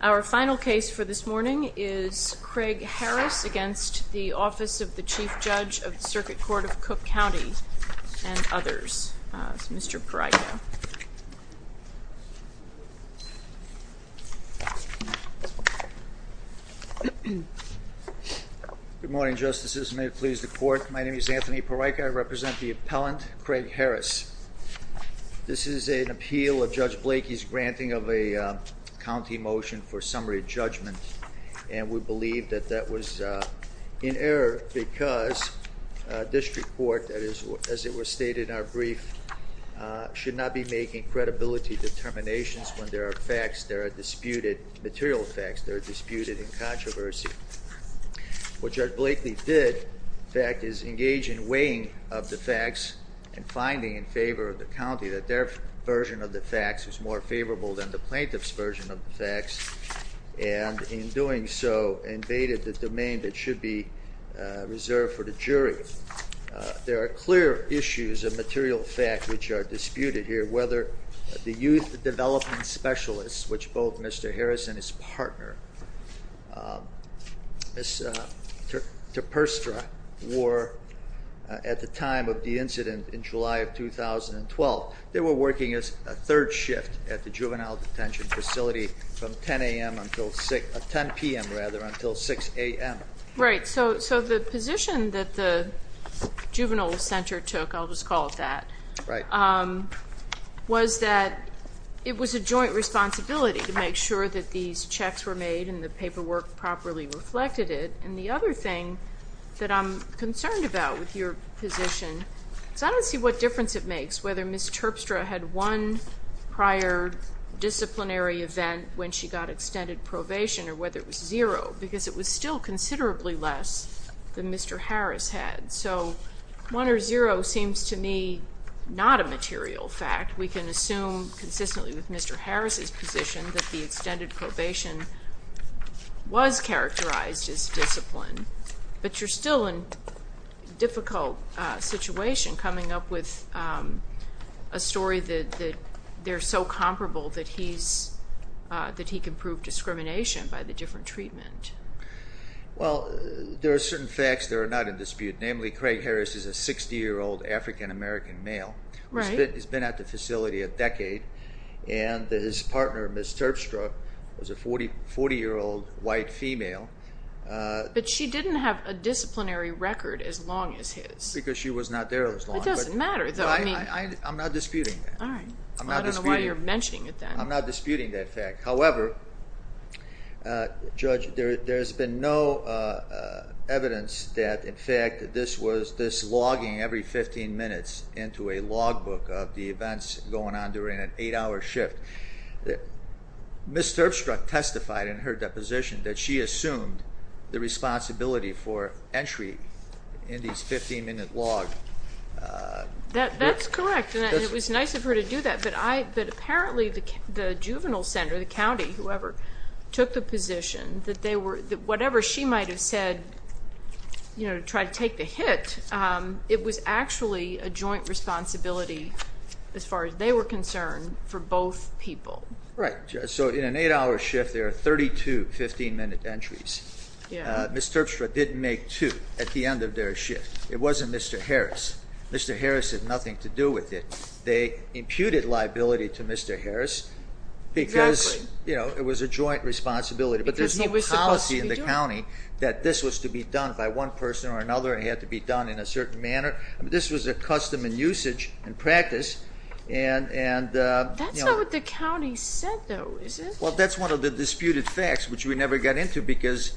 Our final case for this morning is Craig Harris v. Office of the Chief Judge of the Circuit Court of Cook County and others. Mr. Parryko. Good morning, Justices. May it please the Court, my name is Anthony Parryko. I represent the appellant, Craig Harris. This is an appeal of Judge Blakey's granting of a county motion for summary judgment and we believe that that was in error because this report, as it was stated in our brief, should not be making credibility determinations when there are facts that are disputed, material facts that are disputed in controversy. What Judge Blakey did, in fact, is engage in weighing of the facts and finding in favor of the county that their version of the facts was more favorable than the plaintiff's version of the facts and in doing so invaded the domain that should be reserved for the jury. There are clear issues of material fact which are disputed here, whether the youth development specialists, which both Mr. Harris and his partner, Ms. Terperstra, were at the time of the incident in July of 2012, they were working as a third shift at the juvenile detention facility from 10 a.m. until 6, 10 p.m. rather, until 6 a.m. Right, so the position that the juvenile center took, I'll just call it that, was that it was a joint responsibility to make sure that these checks were made and the paperwork properly reflected it. And the other thing that I'm concerned about with your position is I don't see what difference it makes whether Ms. Terpstra had one prior disciplinary event when she got extended probation or whether it was zero because it was still considerably less than Mr. Harris had. So one or zero seems to me not a material fact. We can assume consistently with Mr. Harris' position that the extended probation was characterized as discipline, but you're still in a difficult situation coming up with a story that they're so comparable that he can prove discrimination by the different treatment. Well there are certain facts that are not in dispute, namely Craig Harris is a 60-year-old African-American male. He's been at the facility a decade. And his partner, Ms. Terpstra, was a 40-year-old white female. But she didn't have a disciplinary record as long as his. Because she was not there as long. It doesn't matter though. I'm not disputing that. I don't know why you're mentioning it then. I'm not disputing that fact. However, Judge, there's been no evidence that in fact this logging every 15 minutes into a logbook of the events going on during an eight-hour shift, Ms. Terpstra testified in her deposition that she assumed the responsibility for entry in these 15-minute logs. That's correct. And it was nice of her to do that. But apparently the juvenile center, the county, whoever, took the position that whatever she might have said to try to take a hit, it was actually a joint responsibility as far as they were concerned for both people. Right. So in an eight-hour shift, there are 32 15-minute entries. Ms. Terpstra didn't make two at the end of their shift. It wasn't Mr. Harris. Mr. Harris had nothing to do with it. They imputed liability to Mr. Harris because it was a joint responsibility. Because he was supposed to be doing it. was to be done by one person or another. It had to be done in a certain manner. This was a custom and usage and practice. That's not what the county said, though, is it? Well, that's one of the disputed facts, which we never got into because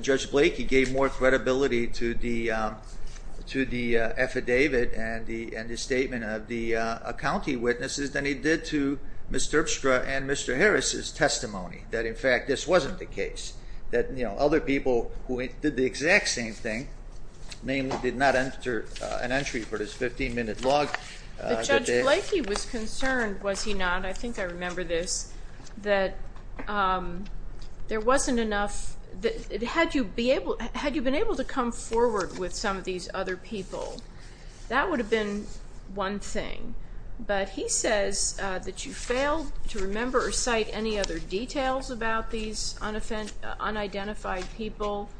Judge Blakey gave more credibility to the affidavit and the statement of the county witnesses than he did to Ms. Terpstra and Mr. Harris's testimony, that in fact this wasn't the case, that other people who did the exact same thing, namely did not enter an entry for this 15-minute log. But Judge Blakey was concerned, was he not? I think I remember this, that there wasn't enough. Had you been able to come forward with some of these other people, that would have been one thing. But he says that you failed to remember or cite any other details about these unidentified people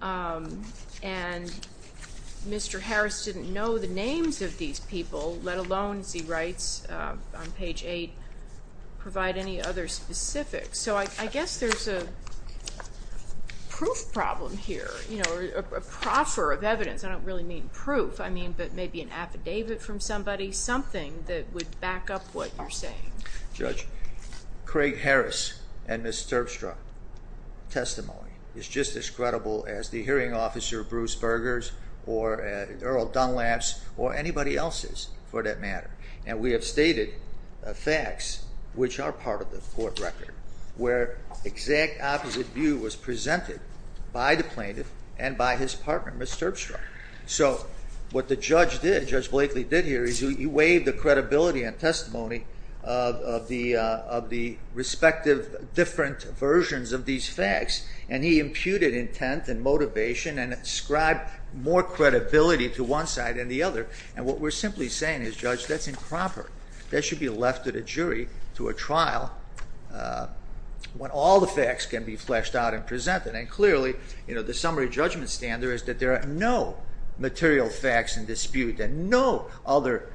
and Mr. Harris didn't know the names of these people, let alone, as he writes on page 8, provide any other specifics. So I guess there's a proof problem here, you know, a proffer of evidence. I don't really mean proof, I mean maybe an affidavit from somebody, something that would back up what you're saying. Judge, Craig Harris and Ms. Terpstra's testimony is just as credible as the hearing officer Bruce Berger's or Earl Dunlap's or anybody else's for that matter. And we have stated facts which are part of the court record where exact opposite view was presented by the plaintiff and by his partner, Ms. Terpstra. So what the judge did, Judge Blakely did here, is he waived the credibility and testimony of the respective different versions of these facts and he imputed intent and motivation and ascribed more credibility to one side than the other. And what we're simply saying is, Judge, that's improper. That should be left to the jury, to a trial, when all the facts can be fleshed out and presented. And clearly, you know, the summary judgment standard is that there are no material facts in dispute and no other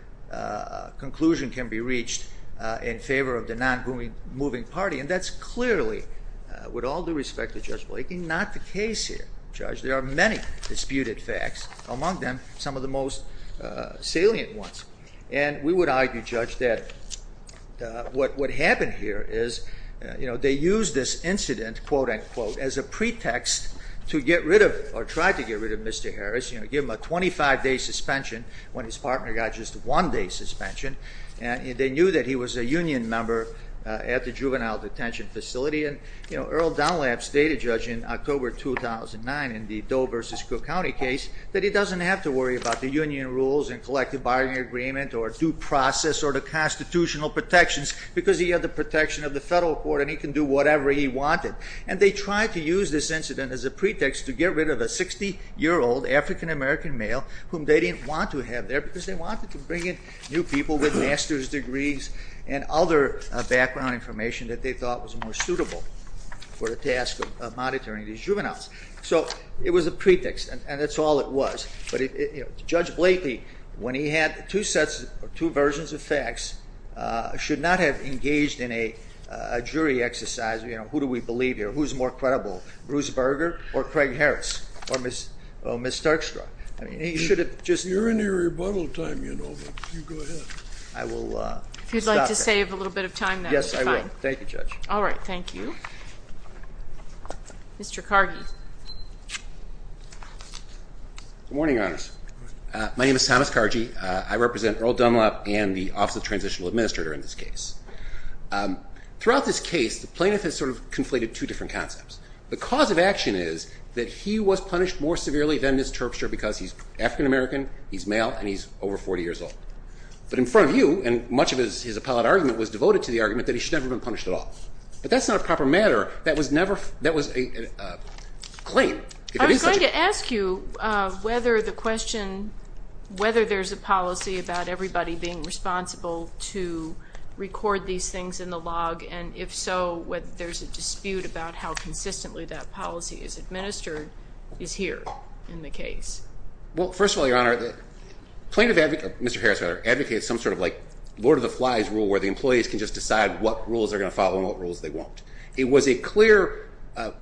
conclusion can be reached in favor of the non-moving party. And that's clearly, with all due respect to Judge Blakely, not the case here. Judge, there are many disputed facts, among them some of the most salient ones. And we would argue, Judge, that what happened here is, you know, they used this to get rid of Mr. Harris, you know, give him a 25-day suspension when his partner got just a one-day suspension. And they knew that he was a union member at the juvenile detention facility. And, you know, Earl Dunlap stated, Judge, in October 2009 in the Doe v. Cook County case, that he doesn't have to worry about the union rules and collective bargaining agreement or due process or the constitutional protections because he had the protection of the federal court and he can do whatever he wanted. And they tried to use this incident as a pretext to get rid of a 60-year-old African-American male whom they didn't want to have there because they wanted to bring in new people with master's degrees and other background information that they thought was more suitable for the task of monitoring these juveniles. So it was a pretext, and that's all it was. But, you know, Judge Blakely, when he had two sets or two versions of facts, should not have engaged in a jury exercise, you know, who do we believe here, who's more credible, Bruce Berger or Craig Harris or Ms. Starkstraw. I mean, he should have just... You're in your rebuttal time, you know, but you go ahead. I will stop there. If you'd like to save a little bit of time, that would be fine. Yes, I will. Thank you, Judge. All right. Thank you. Mr. Kargi. Good morning, Your Honor. My name is Thomas Kargi. I represent Earl Dunlap and the Office of Transitional Administrator in this case. Throughout this case, the plaintiff has sort of conflated two different concepts. The cause of action is that he was punished more severely than Ms. Terpstra because he's African-American, he's male, and he's over 40 years old. But in front of you, and much of his appellate argument was devoted to the argument that he should never have been punished at all. But that's not a proper matter. That was never, that was a claim. I was going to ask you whether the question, whether there's a policy about everybody being responsible to record these things in the log, and if so, whether there's a dispute about how consistently that policy is administered, is here in the case. Well, first of all, Your Honor, the plaintiff, Mr. Harris, advocated some sort of like Lord of the Flies rule where the employees can just decide what rules they're going to follow and what rules they won't. It was a clear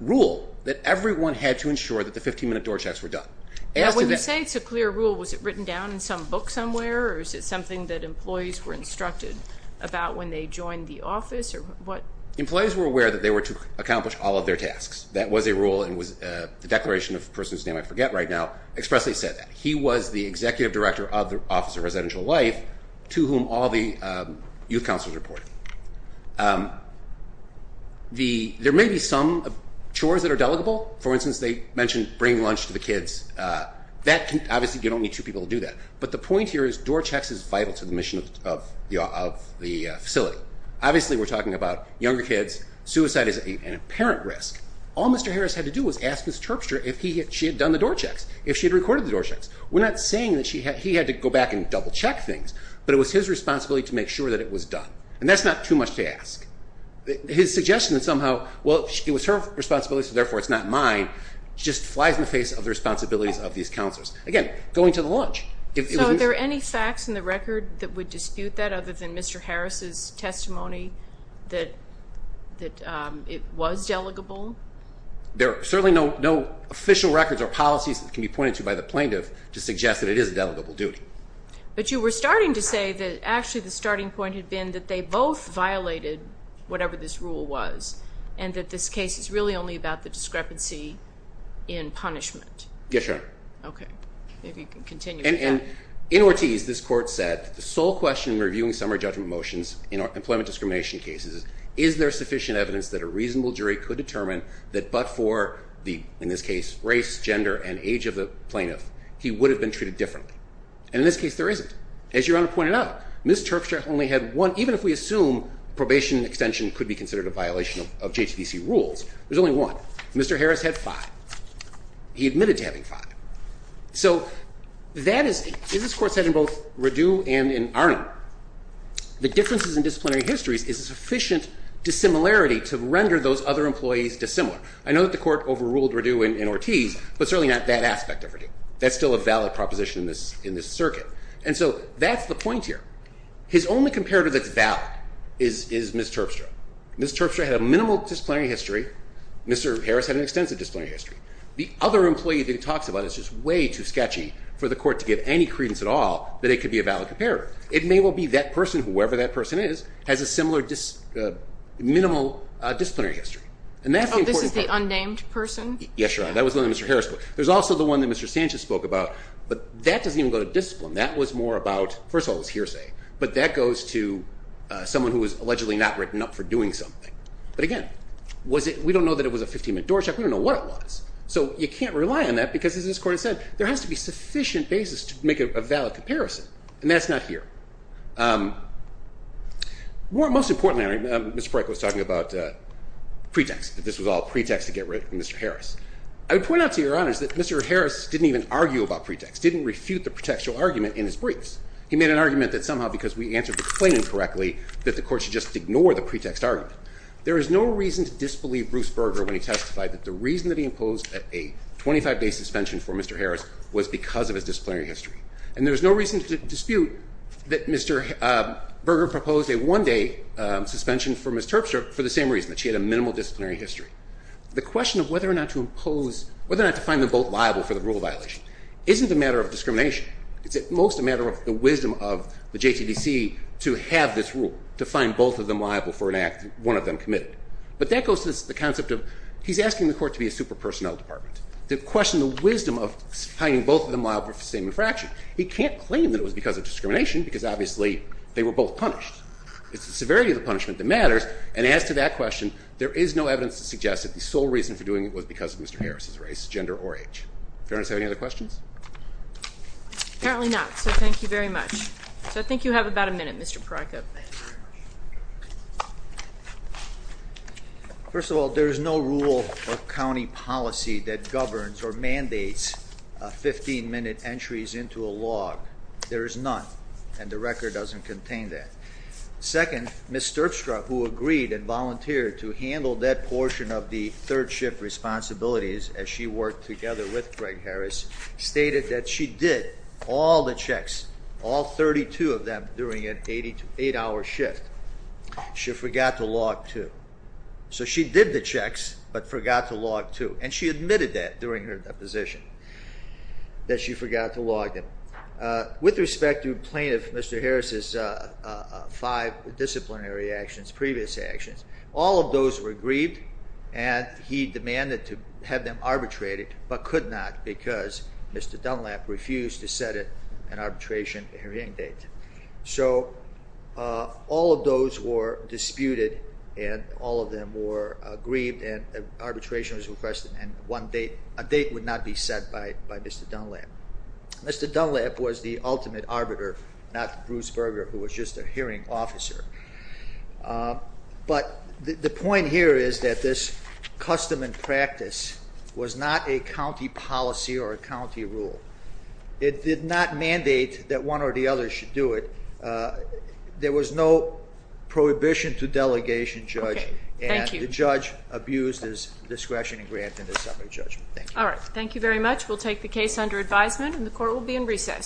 rule that everyone had to ensure that the 15-minute door checks were done. Now, when you say it's a clear rule, was it written down in some book somewhere, or is it something that employees were instructed about when they joined the office, or what? Employees were aware that they were to accomplish all of their tasks. That was a rule, and the declaration of a person's name I forget right now expressly said that. He was the executive director of the Office of Residential Life, to whom all the youth counselors reported. There may be some chores that are delegable. For instance, they mentioned bringing lunch to the kids. That can, obviously, you don't need two people to do that. But the point here is door checks is vital to the mission of the facility. Obviously, we're talking about younger kids. Suicide is an apparent risk. All Mr. Harris had to do was ask Ms. Terpstra if she had done the door checks, if she had recorded the door checks. We're not saying that he had to go back and double-check things, but it was his responsibility to make sure that it was done, and that's not too much to ask. His suggestion that somehow, well, it was her responsibility, so therefore it's not mine, just flies in the face of the responsibilities of these counselors. Again, going to the lunch. So, are there any facts in the record that would dispute that, other than Mr. Harris's testimony that it was delegable? There are certainly no official records or policies that can be pointed to by the plaintiff to suggest that it is a delegable duty. But you were starting to say that, actually, the starting point had been that they both violated whatever this rule was, and that this case is really only about the discrepancy in punishment. Yes, sir. Okay. If you can continue with that. In Ortiz, this Court said, the sole question in reviewing summary judgment motions in employment discrimination cases is, is there sufficient evidence that a reasonable jury could determine that but for the, in this case, race, gender, and age of the plaintiff, he would have been treated differently? And in this case, there isn't. As Your Honor pointed out, Ms. Terpstra only had one, even if we assume probation extension could be considered a violation of JTDC rules, there's only one. Mr. Harris had five. He admitted to having five. So that is, as this Court said in both Radue and in Arnall, the differences in disciplinary histories is sufficient dissimilarity to render those other employees dissimilar. I know that the Court overruled Radue in Ortiz, but certainly not that aspect of Radue. That's still a valid proposition in this circuit. And so that's the point here. His only comparator that's valid is Ms. Terpstra. Ms. Terpstra had a minimal disciplinary history. Mr. Harris had an extensive disciplinary history. The other employee that he talks about is just way too sketchy for the Court to give any credence at all that it could be a valid comparator. It may well be that person, whoever that person is, has a similar minimal disciplinary history. And that's the important point. Oh, this is the unnamed person? Yes, Your Honor. That was the one that Mr. Harris spoke about. There's also the one that Mr. Sanchez spoke about, but that doesn't even go to discipline. That was more about, first of all, it was hearsay. But that goes to someone who was allegedly not written up for doing something. But again, we don't know that it was a 15-minute door check. We don't know what it was. So you can't rely on that because, as this Court has said, there has to be sufficient basis to make a valid comparison. And that's not here. Most importantly, Mr. Breyk was talking about pretext, that this was all pretext to get rid of Mr. Harris. I would point out to Your Honors that Mr. Harris didn't even argue about pretext, didn't refute the pretextual argument in his briefs. He made an argument that somehow because we answered the claim incorrectly that the Court should just ignore the pretext argument. There is no reason to disbelieve Bruce Berger when he testified that the reason that he imposed a 25-day suspension for Mr. Harris was because of his disciplinary history. And there's no reason to dispute that Mr. Berger proposed a one-day suspension for Ms. Terpstra for the same reason, that she had a minimal disciplinary history. The question of whether or not to impose, whether or not to find them both liable for the rule violation, isn't a matter of discrimination. It's at most a matter of the wisdom of the JTDC to have this rule, to find both of them liable for an act one of them committed. But that goes to the concept of he's asking the Court to be a super-personnel department, to question the wisdom of finding both of them liable for the same infraction. He can't claim that it was because of discrimination, because obviously they were both punished. It's the severity of the punishment that matters. And as to that question, there is no evidence to suggest that the sole reason for doing it was because of Mr. Harris's race, gender, or age. Fair enough, do you have any other questions? Apparently not, so thank you very much. So I think you have about a minute, Mr. Prokop. First of all, there is no rule or county policy that governs or mandates 15-minute entries into a log. There is none, and the record doesn't contain that. Second, Ms. Terpstra, who agreed and volunteered to handle that portion of the third shift responsibilities as she worked together with Greg Harris, stated that she did all the checks, all 32 of them, during an eight-hour shift. She forgot to log two. So she did the checks, but forgot to log two. And she admitted that during her deposition, that she forgot to log them. With respect to plaintiff Mr. Harris's five disciplinary actions, previous actions, all of those were grieved, and he demanded to have them arbitrated, but could not because Mr. Dunlap refused to set an arbitration hearing date. So all of those were disputed, and all of them were grieved, and arbitration was requested, and a date would not be set by Mr. Dunlap. Mr. Dunlap was the ultimate arbiter, not Bruce Berger, who was just a hearing officer. But the point here is that this custom and practice was not a county policy or a county rule. It did not mandate that one or the other should do it. There was no prohibition to delegation, Judge, and the judge abused his discretion and granted a separate judgment. Thank you. All right, thank you very much. We'll take the case under advisement, and the court will be in recess.